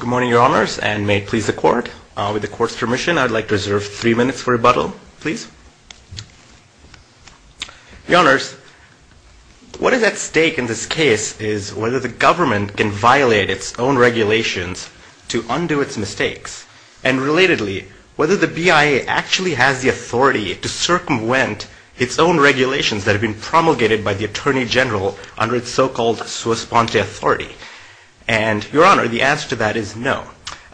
Good morning, Your Honors, and may it please the Court, with the Court's permission, I'd like to reserve three minutes for rebuttal, please. Your Honors, what is at stake in this case is whether the government can violate its own regulations to undo its mistakes, and relatedly, whether the BIA actually has the authority to circumvent its own regulations that have been promulgated by the Attorney General under its so-called sua sponte authority. And, Your Honor, the answer to that is no.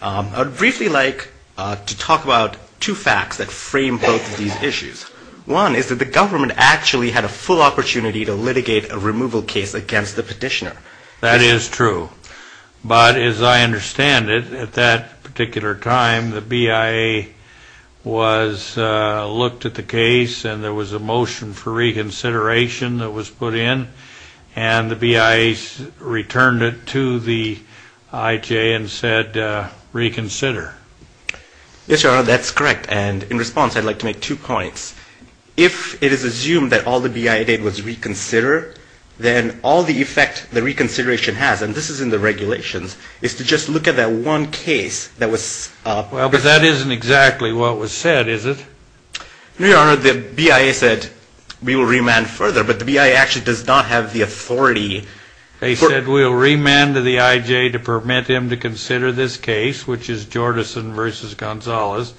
I'd briefly like to talk about two facts that frame both of these issues. One is that the government actually had a full opportunity to litigate a removal case against the petitioner. That is true. But, as I understand it, at that particular time, the BIA was looked at the case, and there was a motion for reconsideration that was put in, and the BIA returned it to the IJ and said, reconsider. Yes, Your Honor, that's correct. And, in response, I'd like to make two points. If it is assumed that all the BIA did was reconsider, then all the effect the reconsideration has, and this is in the regulations, is to just look at that one case that was... Well, but that isn't exactly what was said, is it? Your Honor, the BIA said, we will remand further, but the BIA actually does not have the authority... They said, we will remand to the IJ to permit him to consider this case, which is Jordison v. Gonzalez.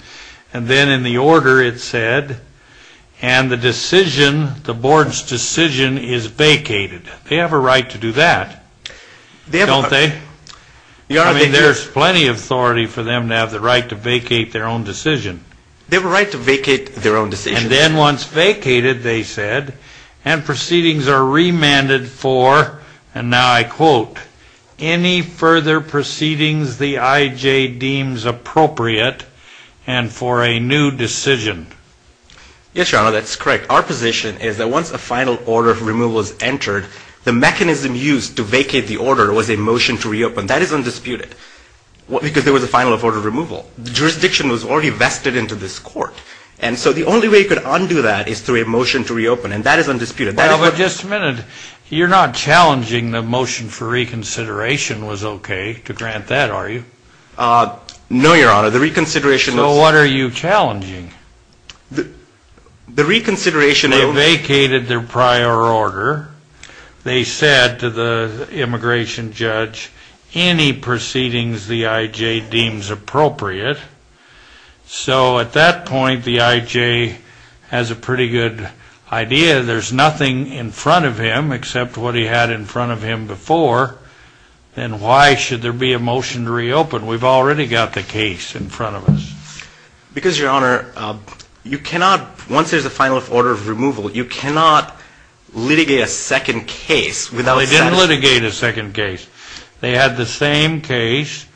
And then, in the order, it said, and the decision, the board's decision is vacated. They have a right to do that, don't they? I mean, there's plenty of authority for them to have the right to vacate their own decision. They have a right to vacate their own decision. And then, once vacated, they said, and proceedings are remanded for, and now I quote, any further proceedings the IJ deems appropriate, and for a new decision. Yes, Your Honor, that's correct. Our position is that once a final order of removal is entered, the mechanism used to vacate the order was a motion to reopen. That is undisputed, because there was a final order of removal. The jurisdiction was already vested into this court. And so, the only way you could undo that is through a motion to reopen, and that is undisputed. Now, but just a minute. You're not challenging the motion for reconsideration was okay to grant that, are you? No, Your Honor. The reconsideration of. So, what are you challenging? The reconsideration of. They vacated their prior order. They said to the immigration judge, any proceedings the IJ deems appropriate. So, at that point, the IJ has a pretty good idea. There's nothing in front of him except what he had in front of him before, and why should there be a motion to reopen? We've already got the case in front of us. Because, Your Honor, you cannot, once there's a final order of removal, you cannot litigate a second case without. They didn't litigate a second case. They had the same case,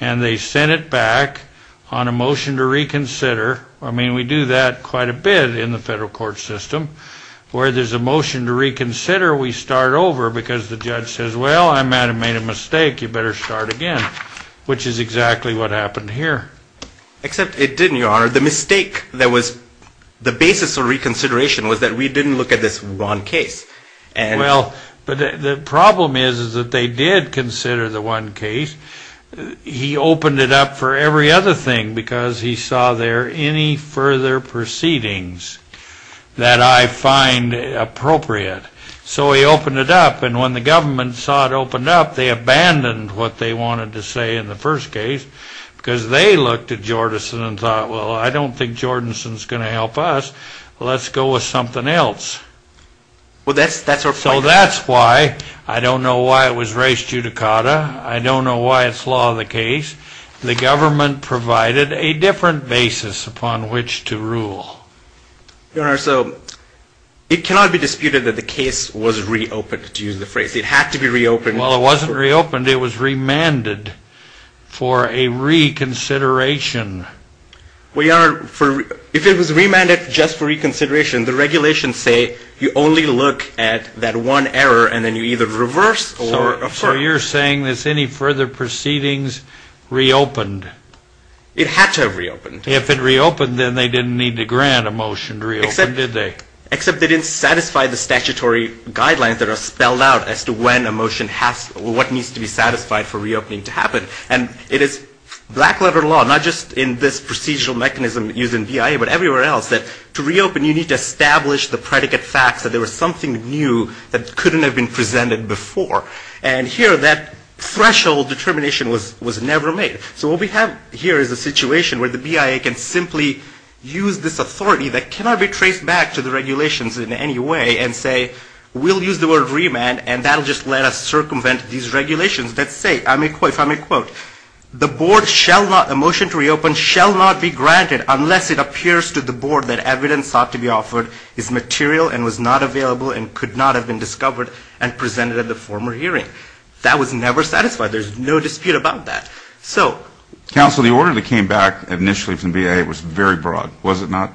and they sent it back on a motion to reconsider. I mean, we do that quite a bit in the federal court system. Where there's a motion to reconsider, we start over because the judge says, well, I might have made a mistake. You better start again, which is exactly what happened here. Except it didn't, Your Honor. The mistake that was the basis of reconsideration was that we didn't look at this one case. Well, but the problem is that they did consider the one case. He opened it up for every other thing because he saw there any further proceedings that I find appropriate. So he opened it up, and when the government saw it opened up, they abandoned what they wanted to say in the first case because they looked at Jordanson and thought, well, I don't think Jordanson's going to help us. Let's go with something else. So that's why. I don't know why it was race judicata. I don't know why it's law of the case. The government provided a different basis upon which to rule. Your Honor, so it cannot be disputed that the case was reopened, to use the phrase. It had to be reopened. Well, it wasn't reopened. It was remanded for a reconsideration. Well, Your Honor, if it was remanded just for reconsideration, the regulations say you only look at that one error and then you either reverse or, of course. So you're saying that any further proceedings reopened. It had to have reopened. If it reopened, then they didn't need to grant a motion to reopen, did they? Except they didn't satisfy the statutory guidelines that are spelled out as to when a motion has, what needs to be satisfied for reopening to happen. And it is black-letter law, not just in this procedural mechanism used in BIA, but everywhere else, that to reopen you need to establish the predicate facts that there was something new that couldn't have been presented before. And here that threshold determination was never made. So what we have here is a situation where the BIA can simply use this authority that cannot be traced back to the regulations in any way and say we'll use the word remand and that will just let us circumvent these regulations. Let's say, if I may quote, the board shall not, a motion to reopen shall not be granted unless it appears to the board that evidence sought to be offered is material and was not available and could not have been discovered and presented at the former hearing. That was never satisfied. There's no dispute about that. So. Counsel, the order that came back initially from BIA was very broad, was it not?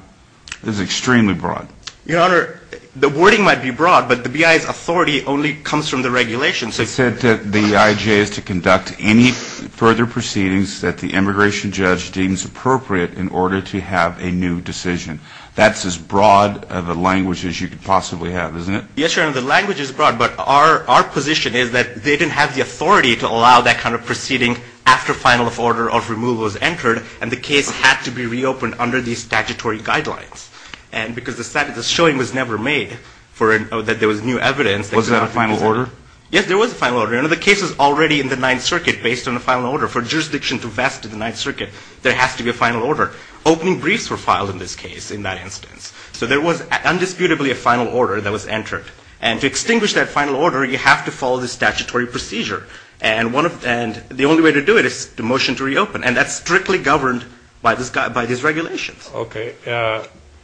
It was extremely broad. Your Honor, the wording might be broad, but the BIA's authority only comes from the regulations. It said that the IJ is to conduct any further proceedings that the immigration judge deems appropriate in order to have a new decision. That's as broad of a language as you could possibly have, isn't it? Yes, Your Honor, the language is broad, but our position is that they didn't have the authority to allow that kind of proceeding after final order of removal was entered and the case had to be reopened under the statutory guidelines. And because the showing was never made that there was new evidence. Was there a final order? Yes, there was a final order. And the case was already in the Ninth Circuit based on a final order. For jurisdiction to vest in the Ninth Circuit, there has to be a final order. Opening briefs were filed in this case in that instance. So there was undisputably a final order that was entered. And to extinguish that final order, you have to follow the statutory procedure. And the only way to do it is to motion to reopen. And that's strictly governed by these regulations. Okay.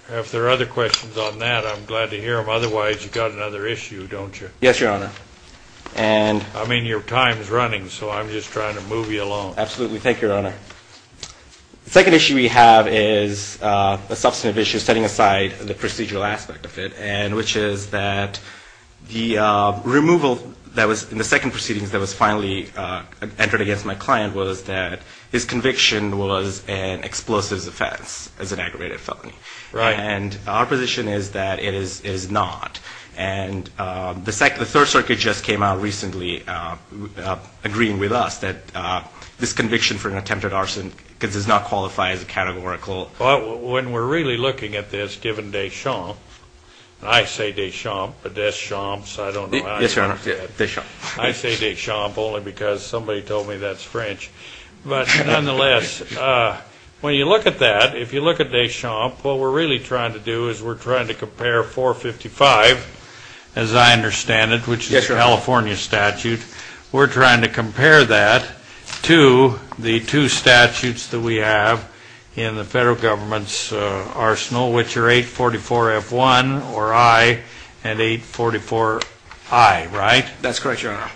If there are other questions on that, I'm glad to hear them. Otherwise, you've got another issue, don't you? Yes, Your Honor. I mean, your time is running, so I'm just trying to move you along. Absolutely. Thank you, Your Honor. The second issue we have is a substantive issue setting aside the procedural aspect of it, which is that the removal that was in the second proceedings that was finally entered against my client was that his conviction was an explosive offense as an aggravated felony. Right. And our position is that it is not. And the Third Circuit just came out recently agreeing with us that this conviction for an attempted arson does not qualify as a categorical. Well, when we're really looking at this, given Deschamps, I say Deschamps, but Deschamps, I don't know how to pronounce that. Yes, Your Honor. I say Deschamps only because somebody told me that's French. But nonetheless, when you look at that, if you look at Deschamps, what we're really trying to do is we're trying to compare 455, as I understand it, which is a California statute. We're trying to compare that to the two statutes that we have in the federal government's arsenal, which are 844F1 or I and 844I, right? That's correct, Your Honor.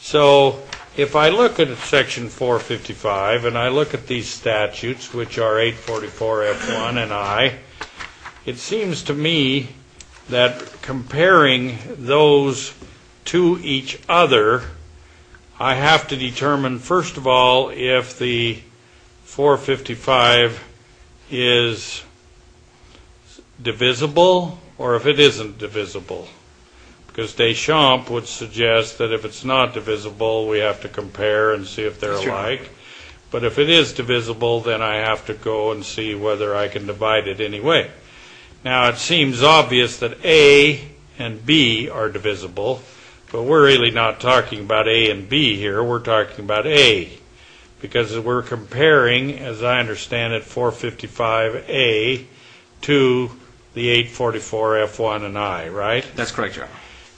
So if I look at Section 455 and I look at these statutes, which are 844F1 and I, it seems to me that comparing those to each other, I have to determine, first of all, if the 455 is divisible or if it isn't divisible. Because Deschamps would suggest that if it's not divisible, we have to compare and see if they're alike. But if it is divisible, then I have to go and see whether I can divide it anyway. Now, it seems obvious that A and B are divisible, but we're really not talking about A and B here. We're talking about A because we're comparing, as I understand it, 455A to the 844F1 and I, right? That's correct, Your Honor.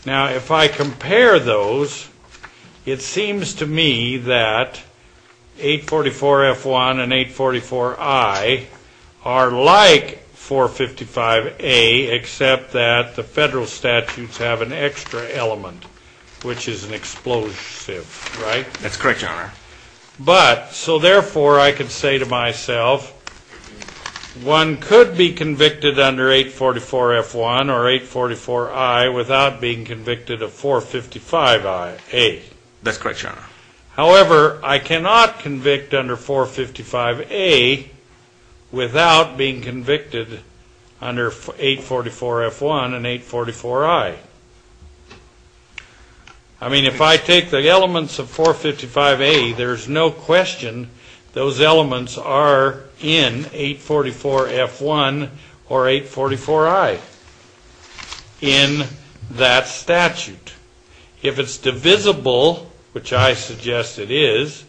Now, if I compare those, it seems to me that 844F1 and 844I are like 455A, except that the federal statutes have an extra element, which is an explosive, right? That's correct, Your Honor. So therefore, I can say to myself, one could be convicted under 844F1 or 844I without being convicted of 455A. That's correct, Your Honor. However, I cannot convict under 455A without being convicted under 844F1 and 844I. I mean, if I take the elements of 455A, there's no question those elements are in 844F1 or 844I in that statute. If it's divisible, which I suggest it is,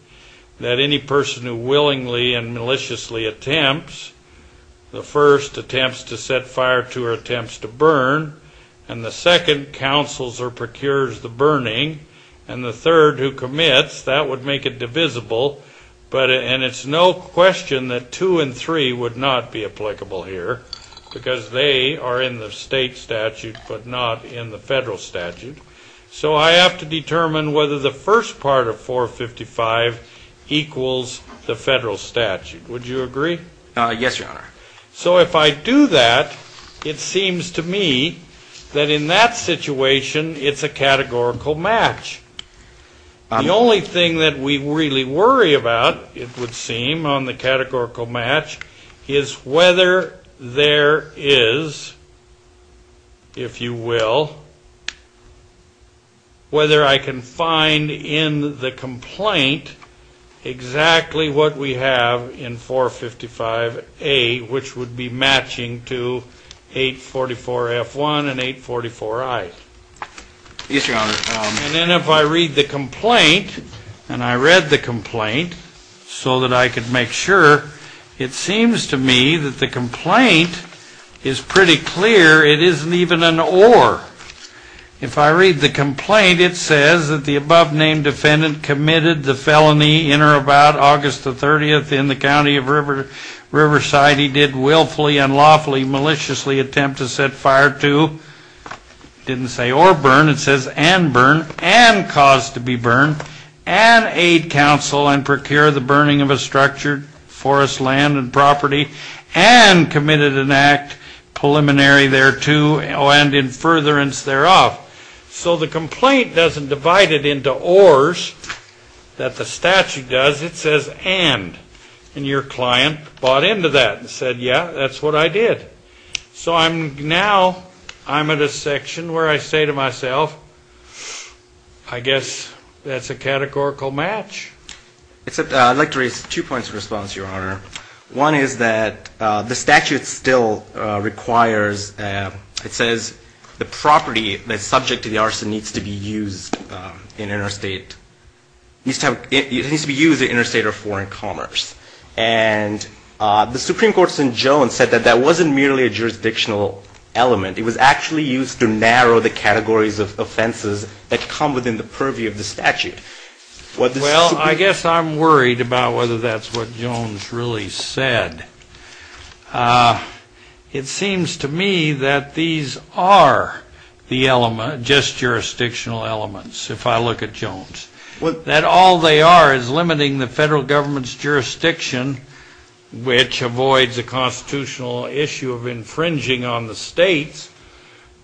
that any person who willingly and maliciously attempts, the first attempts to set fire to or attempts to burn, and the second counsels or procures the burning, and the third who commits, that would make it divisible, and it's no question that two and three would not be applicable here because they are in the state statute but not in the federal statute. So I have to determine whether the first part of 455 equals the federal statute. Would you agree? Yes, Your Honor. So if I do that, it seems to me that in that situation, it's a categorical match. The only thing that we really worry about, it would seem, on the categorical match, is whether there is, if you will, whether I can find in the complaint exactly what we have in 455A, which would be matching to 844F1 and 844I. Yes, Your Honor. And then if I read the complaint, and I read the complaint so that I could make sure, it seems to me that the complaint is pretty clear. It isn't even an or. If I read the complaint, it says that the above-named defendant committed the felony in or about August the 30th in the county of Riverside. He did willfully, unlawfully, maliciously attempt to set fire to, didn't say or burn. It says and burn, and cause to be burned, and aid counsel and procure the burning of a structured forest land and property, and committed an act preliminary thereto and in furtherance thereof. So the complaint doesn't divide it into ors that the statute does. It says and. And your client bought into that and said, yeah, that's what I did. So now I'm at a section where I say to myself, I guess that's a categorical match. I'd like to raise two points of response, Your Honor. One is that the statute still requires, it says the property that's subject to the arson needs to be used in interstate. It needs to be used in interstate or foreign commerce. And the Supreme Court's in Jones said that that wasn't merely a jurisdictional element. It was actually used to narrow the categories of offenses that come within the purview of the statute. Well, I guess I'm worried about whether that's what Jones really said. It seems to me that these are the element, just jurisdictional elements, if I look at Jones. That all they are is limiting the federal government's jurisdiction, which avoids a constitutional issue of infringing on the state's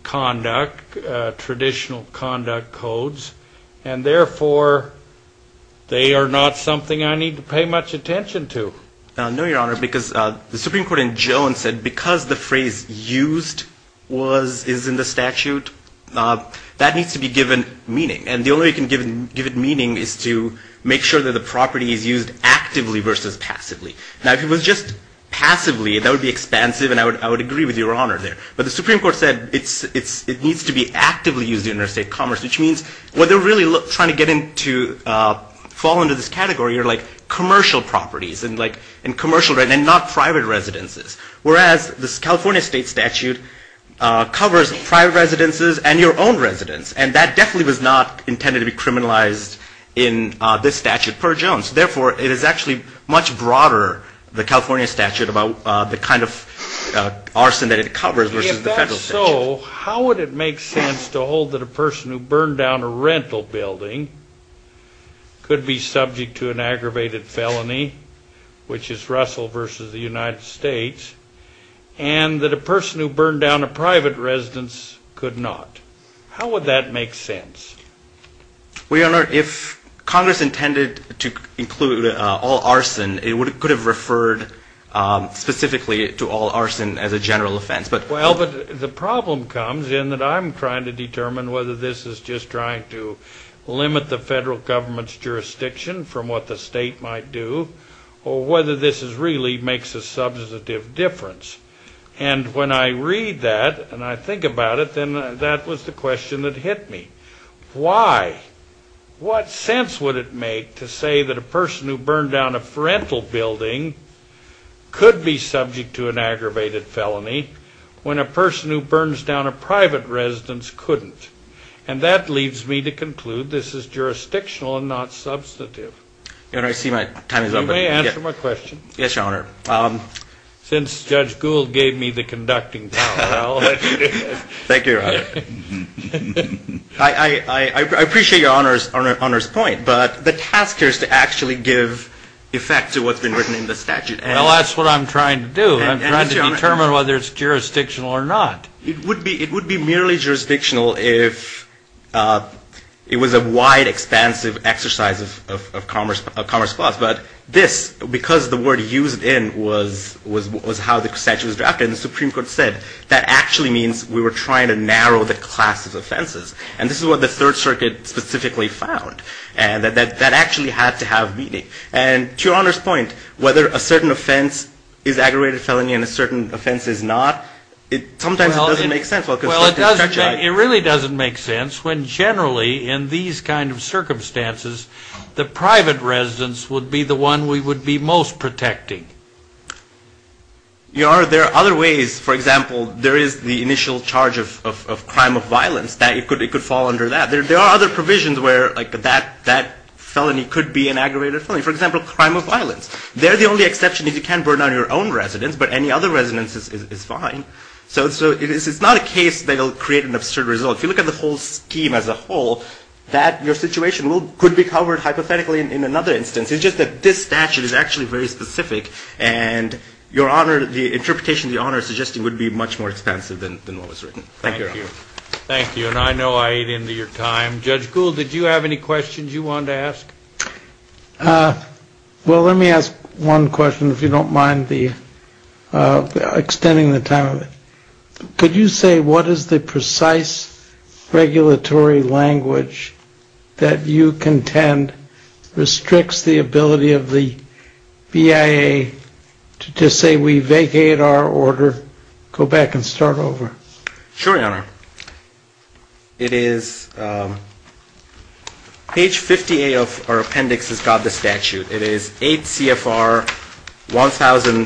conduct, traditional conduct codes, and therefore they are not something I need to pay much attention to. No, Your Honor, because the Supreme Court in Jones said because the phrase used is in the statute, that needs to be given meaning. And the only way you can give it meaning is to make sure that the property is used actively versus passively. Now, if it was just passively, that would be expansive, and I would agree with Your Honor there. But the Supreme Court said it needs to be actively used in interstate commerce, which means what they're really trying to get into, fall into this category are like commercial properties and commercial, and not private residences, whereas this California state statute covers private residences and your own residence. And that definitely was not intended to be criminalized in this statute per Jones. Therefore, it is actually much broader, the California statute, about the kind of arson that it covers versus the federal statute. If that's so, how would it make sense to hold that a person who burned down a rental building could be subject to an aggravated felony, which is Russell versus the United States, and that a person who burned down a private residence could not? How would that make sense? Well, Your Honor, if Congress intended to include all arson, it could have referred specifically to all arson as a general offense. Well, but the problem comes in that I'm trying to determine whether this is just trying to limit the federal government's jurisdiction from what the state might do, or whether this really makes a substantive difference. And when I read that and I think about it, then that was the question that hit me. Why? What sense would it make to say that a person who burned down a rental building could be subject to an aggravated felony when a person who burns down a private residence couldn't? And that leads me to conclude this is jurisdictional and not substantive. Your Honor, I see my time is up. You may answer my question. Yes, Your Honor. Since Judge Gould gave me the conducting power, I'll let you do it. Thank you, Your Honor. I appreciate Your Honor's point, but the task here is to actually give effect to what's been written in the statute. Well, that's what I'm trying to do. I'm trying to determine whether it's jurisdictional or not. It would be merely jurisdictional if it was a wide, expansive exercise of commerce clause. But this, because the word used in was how the statute was drafted, and the Supreme Court said, that actually means we were trying to narrow the class of offenses. And this is what the Third Circuit specifically found, and that actually had to have meaning. And to Your Honor's point, whether a certain offense is aggravated felony and a certain offense is not, sometimes it doesn't make sense. Well, it really doesn't make sense when generally in these kind of circumstances, the private residence would be the one we would be most protecting. Your Honor, there are other ways. For example, there is the initial charge of crime of violence. It could fall under that. There are other provisions where that felony could be an aggravated felony. For example, crime of violence. They're the only exception is you can't burn down your own residence, but any other residence is fine. So it's not a case that will create an absurd result. If you look at the whole scheme as a whole, that your situation could be covered hypothetically in another instance. It's just that this statute is actually very specific, and Your Honor, the interpretation Your Honor is suggesting would be much more expansive than what was written. Thank you, Your Honor. Thank you, and I know I ate into your time. Well, let me ask one question, if you don't mind the extending the time. Could you say what is the precise regulatory language that you contend restricts the ability of the BIA to just say we vacate our order? Go back and start over. Sure, Your Honor. It is, page 58 of our appendix has got the statute. It is 8 CFR 1000,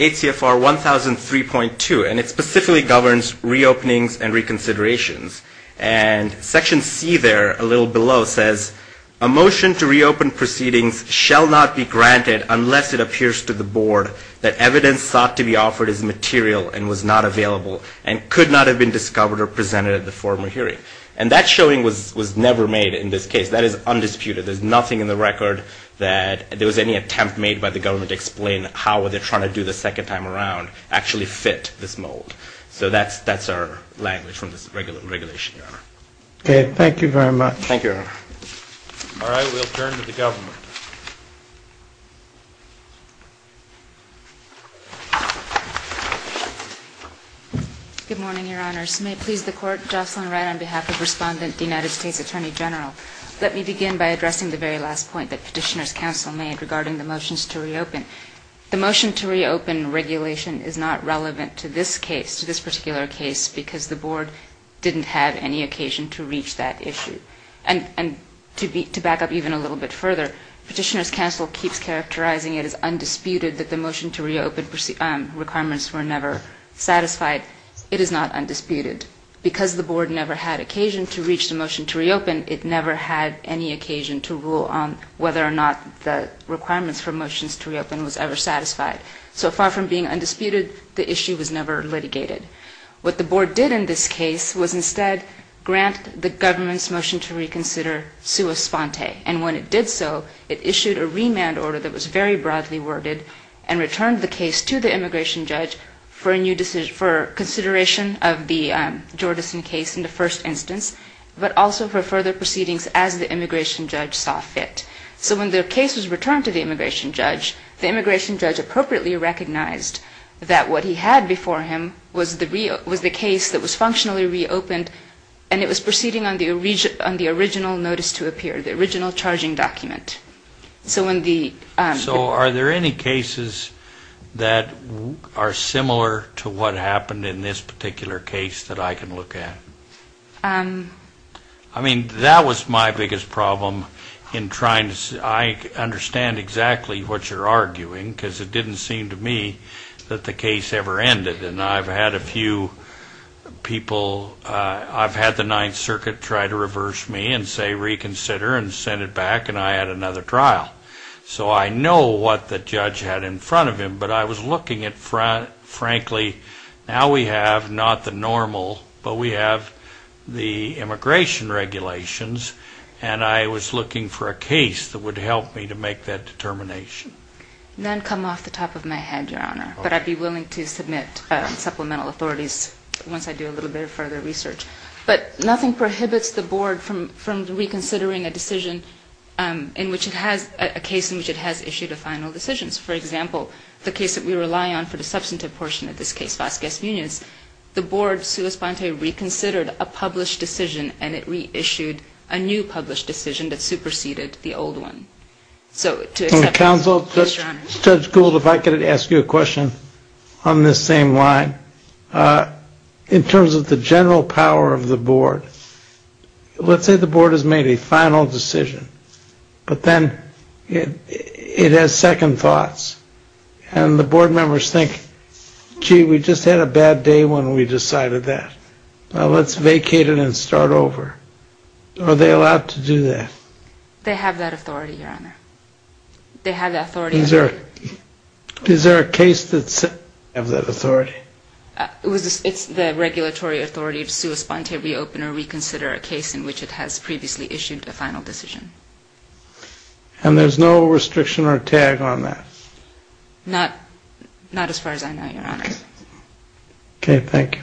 8 CFR 1003.2, and it specifically governs reopenings and reconsiderations. And section C there, a little below, says a motion to reopen proceedings shall not be granted unless it appears to the board that evidence sought to be offered is material and was not available and could not have been discovered or presented at the former hearing. And that showing was never made in this case. That is undisputed. There's nothing in the record that there was any attempt made by the government to explain how they're trying to do the second time around actually fit this mold. So that's our language from this regulation, Your Honor. Thank you, Your Honor. All right, we'll turn to the government. Good morning, Your Honors. May it please the Court, Jocelyn Wright on behalf of Respondent, United States Attorney General. Let me begin by addressing the very last point that Petitioner's Counsel made regarding the motions to reopen. The motion to reopen regulation is not relevant to this case, to this particular case, because the board didn't have any occasion to reach that issue. And to back up even a little bit further, Petitioner's Counsel keeps characterizing it as undisputed that the motion to reopen requirements were never satisfied. It is not undisputed. Because the board never had occasion to reach the motion to reopen, it never had any occasion to rule on whether or not the requirements for motions to reopen was ever satisfied. So far from being undisputed, the issue was never litigated. What the board did in this case was instead grant the government's motion to reconsider sua sponte. And when it did so, it issued a remand order that was very broadly worded and returned the case to the immigration judge for consideration of the Jordison case in the first instance, but also for further proceedings as the immigration judge saw fit. So when the case was returned to the immigration judge, the immigration judge appropriately recognized that what he had before him was the case that was functionally reopened, and it was proceeding on the original notice to appear, the original charging document. So are there any cases that are similar to what happened in this particular case that I can look at? I mean, that was my biggest problem in trying to understand exactly what you're arguing because it didn't seem to me that the case ever ended. And I've had a few people, I've had the Ninth Circuit try to reverse me and say reconsider and send it back, and I had another trial. So I know what the judge had in front of him, but I was looking at, frankly, now we have not the normal, but we have the immigration regulations, and I was looking for a case that would help me to make that determination. None come off the top of my head, Your Honor, but I'd be willing to submit supplemental authorities once I do a little bit of further research. But nothing prohibits the board from reconsidering a decision in which it has, a case in which it has issued a final decision. For example, the case that we rely on for the substantive portion of this case, Vasquez Unions, the board, sua sponte, reconsidered a published decision, and it reissued a new published decision that superseded the old one. So to accept this, please, Your Honor. Judge Gould, if I could ask you a question on this same line. In terms of the general power of the board, let's say the board has made a final decision, but then it has second thoughts. And the board members think, gee, we just had a bad day when we decided that. Now let's vacate it and start over. Are they allowed to do that? They have that authority, Your Honor. They have that authority. Is there a case that has that authority? It's the regulatory authority of sua sponte to reopen or reconsider a case in which it has previously issued a final decision. And there's no restriction or tag on that? Not as far as I know, Your Honor. Okay, thank you.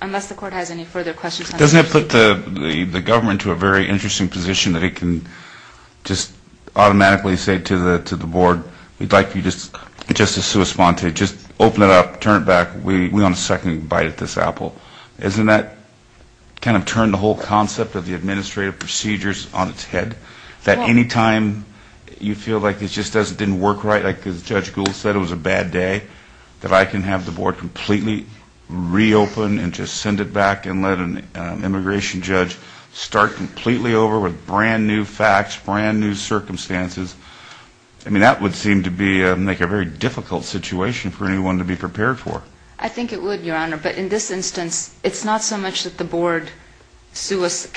Unless the court has any further questions. Doesn't it put the government to a very interesting position that it can just automatically say to the board, we'd like you just to sua sponte, just open it up, turn it back, we want a second bite at this apple. Doesn't that kind of turn the whole concept of the administrative procedures on its head, that any time you feel like it just doesn't work right, like Judge Gould said, it was a bad day, that I can have the board completely reopen and just send it back and let an immigration judge start completely over with brand-new facts, brand-new circumstances. I mean, that would seem to make a very difficult situation for anyone to be prepared for. I think it would, Your Honor. But in this instance, it's not so much that the board just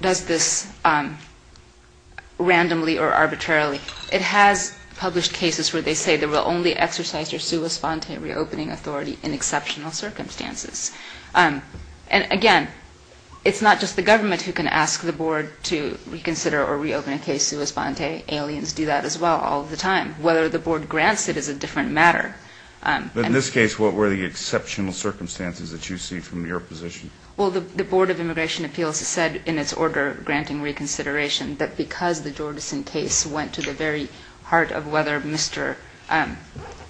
does this randomly or arbitrarily. It has published cases where they say they will only exercise their sua sponte reopening authority in exceptional circumstances. And again, it's not just the government who can ask the board to reconsider or reopen a case sua sponte. Aliens do that as well all the time. Whether the board grants it is a different matter. But in this case, what were the exceptional circumstances that you see from your position? Well, the Board of Immigration Appeals said in its order granting reconsideration that because the Jordison case went to the very heart of whether Mr.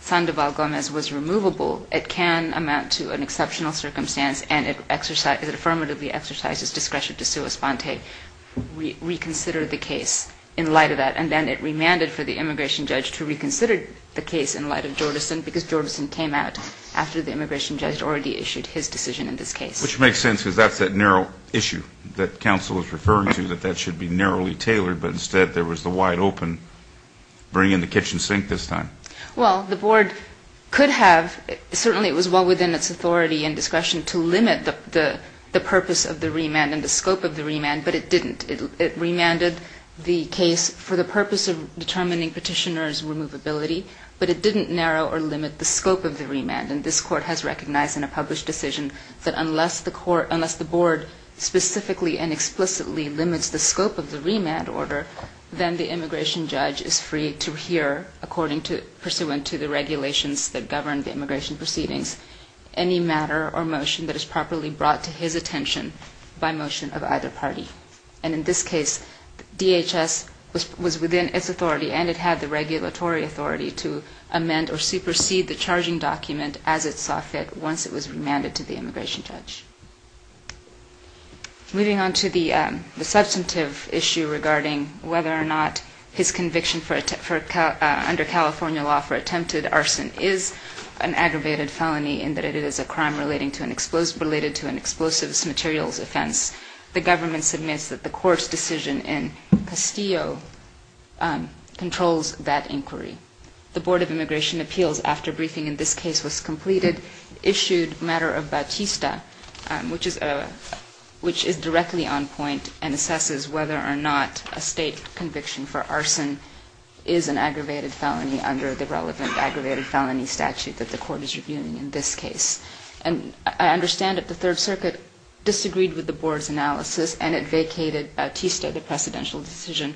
Sandoval Gomez was removable, it can amount to an exceptional circumstance and it affirmatively exercises discretion to sua sponte reconsider the case in light of that. And then it remanded for the immigration judge to reconsider the case in light of Jordison because Jordison came out after the immigration judge already issued his decision in this case. Which makes sense because that's that narrow issue that counsel is referring to, that that should be narrowly tailored, but instead there was the wide open bring in the kitchen sink this time. Well, the board could have, certainly it was well within its authority and discretion to limit the purpose of the remand and the scope of the remand, but it didn't. It remanded the case for the purpose of determining petitioner's removability, but it didn't narrow or limit the scope of the remand. And this court has recognized in a published decision that unless the court, unless the board specifically and explicitly limits the scope of the remand order, then the immigration judge is free to hear according to, pursuant to the regulations that govern the immigration proceedings, any matter or motion that is properly brought to his attention by motion of either party. And in this case, DHS was within its authority and it had the regulatory authority to amend or supersede the charging document as it saw fit once it was remanded to the immigration judge. Moving on to the substantive issue regarding whether or not his conviction under California law for attempted arson is an aggravated felony in that it is a crime related to an explosive materials offense. The government submits that the court's decision in Castillo controls that inquiry. The Board of Immigration Appeals, after briefing in this case was completed, issued matter of Bautista, which is, which is directly on point and assesses whether or not a state conviction for arson is an aggravated felony under the relevant aggravated felony statute that the court is reviewing in this case. And I understand that the Third Circuit disagreed with the board's analysis and it vacated Bautista, the precedential decision,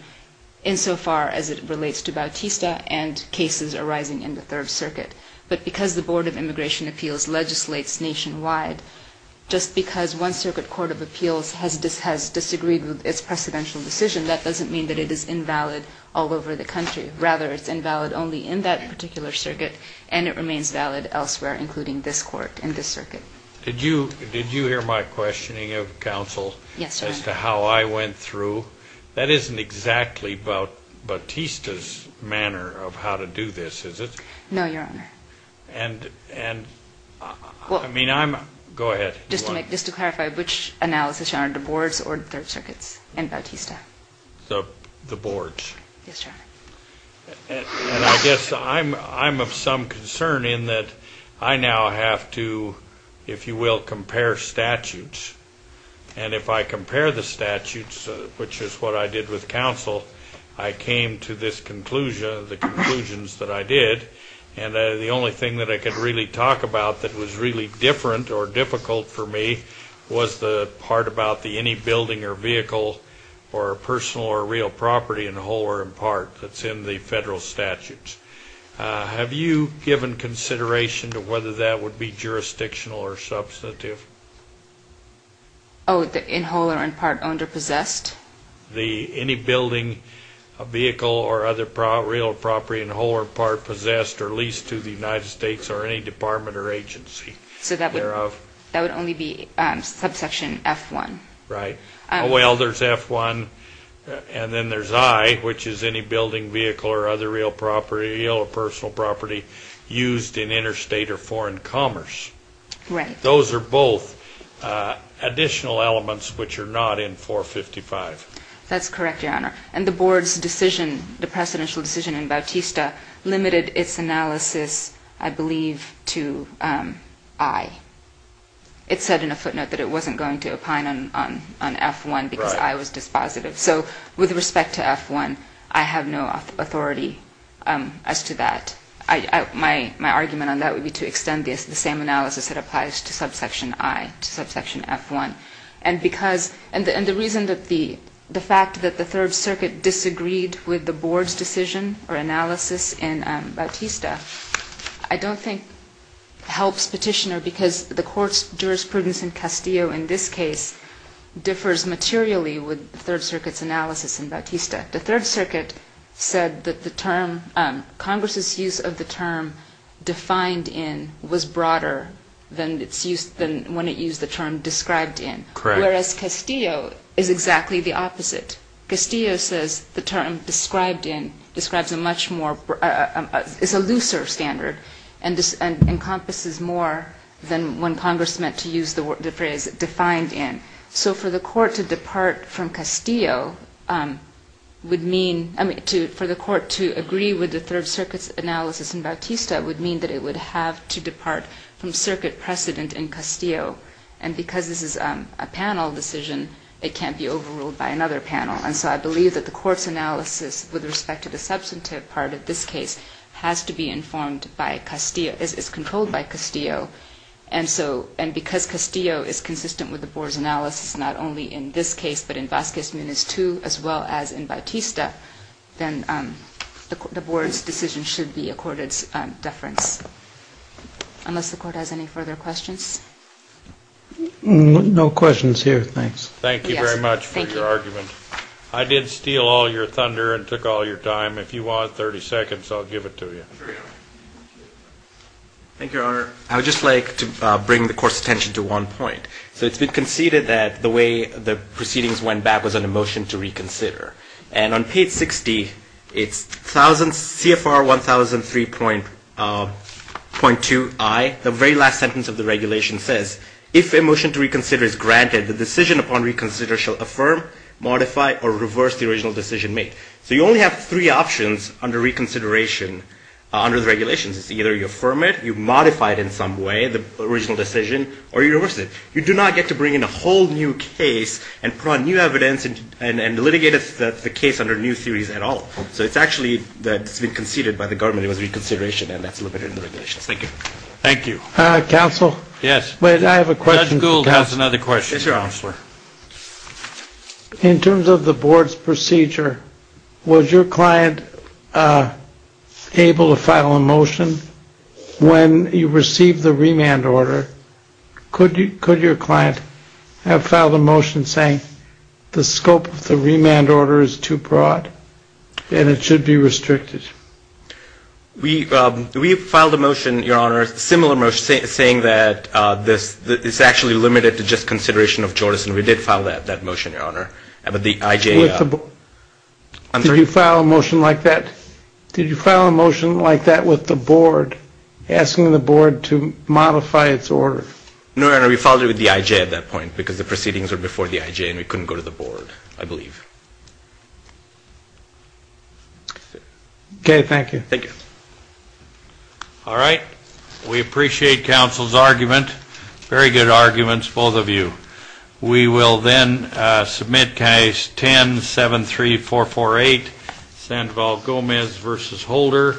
insofar as it relates to Bautista and cases arising in the Third Circuit. But because the Board of Immigration Appeals legislates nationwide, just because one circuit court of appeals has disagreed with its precedential decision, that doesn't mean that it is invalid all over the country. Rather, it's invalid only in that particular circuit and it remains valid elsewhere, including this court and this circuit. Did you hear my questioning of counsel? Yes, Your Honor. As to how I went through. That isn't exactly Bautista's manner of how to do this, is it? No, Your Honor. And, I mean, I'm, go ahead. Just to clarify, which analysis, Your Honor, the board's or the Third Circuit's and Bautista? The board's. Yes, Your Honor. And I guess I'm of some concern in that I now have to, if you will, compare statutes. And if I compare the statutes, which is what I did with counsel, I came to this conclusion, the conclusions that I did, and the only thing that I could really talk about that was really different or difficult for me was the part about the any building or vehicle or personal or real property in whole or in part that's in the federal statutes. Have you given consideration to whether that would be jurisdictional or substantive? Oh, in whole or in part owned or possessed? Any building, vehicle, or other real property in whole or part possessed or leased to the United States or any department or agency thereof. So that would only be subsection F1. Right. Well, there's F1 and then there's I, which is any building, vehicle, or other real property, real or personal property used in interstate or foreign commerce. Right. Those are both additional elements which are not in 455. That's correct, Your Honor. And the board's decision, the precedential decision in Bautista, limited its analysis, I believe, to I. It said in a footnote that it wasn't going to opine on F1 because I was dispositive. Right. So with respect to F1, I have no authority as to that. My argument on that would be to extend the same analysis that applies to subsection I, to subsection F1. And the reason that the fact that the Third Circuit disagreed with the board's decision in Bautista, I don't think helps Petitioner because the court's jurisprudence in Castillo, in this case, differs materially with the Third Circuit's analysis in Bautista. The Third Circuit said that the term, Congress's use of the term defined in was broader than when it used the term described in. Whereas Castillo is exactly the opposite. Castillo says the term described in describes a much more, is a looser standard, and encompasses more than when Congress meant to use the phrase defined in. So for the court to depart from Castillo would mean, I mean, for the court to agree with the Third Circuit's analysis in Bautista would mean that it would have to depart from circuit precedent in Castillo. And because this is a panel decision, it can't be overruled by another panel. And so I believe that the court's analysis with respect to the substantive part of this case has to be informed by Castillo, is controlled by Castillo. And so, and because Castillo is consistent with the board's analysis, not only in this case, but in Vasquez Munoz too, as well as in Bautista, then the board's decision should be accorded deference. Unless the court has any further questions. Thank you very much for your argument. I did steal all your thunder and took all your time. If you want 30 seconds, I'll give it to you. Thank you, Your Honor. I would just like to bring the court's attention to one point. So it's been conceded that the way the proceedings went back was on a motion to reconsider. And on page 60, it's CFR 1003.2i, the very last sentence of the regulation says, if a motion to reconsider is granted, the decision upon reconsideration shall affirm, modify, or reverse the original decision made. So you only have three options under reconsideration under the regulations. It's either you affirm it, you modify it in some way, the original decision, or you reverse it. You do not get to bring in a whole new case and put on new evidence and litigate the case under new theories at all. So it's actually been conceded by the government it was reconsideration and that's limited in the regulations. Thank you. Thank you. Counsel? Yes. Judge Gould has another question. Yes, Your Honor. In terms of the board's procedure, was your client able to file a motion when you received the remand order? Could your client have filed a motion saying the scope of the remand order is too broad and it should be restricted? We filed a motion, Your Honor, a similar motion, saying that it's actually limited to just consideration of Jordison. We did file that motion, Your Honor. Did you file a motion like that with the board, asking the board to modify its order? No, Your Honor, we filed it with the IJ at that point because the proceedings were before the IJ and we couldn't go to the board, I believe. Okay, thank you. Thank you. All right. We appreciate counsel's argument. Very good arguments, both of you. We will then submit case 10-73448, Sandoval-Gomez v. Holder.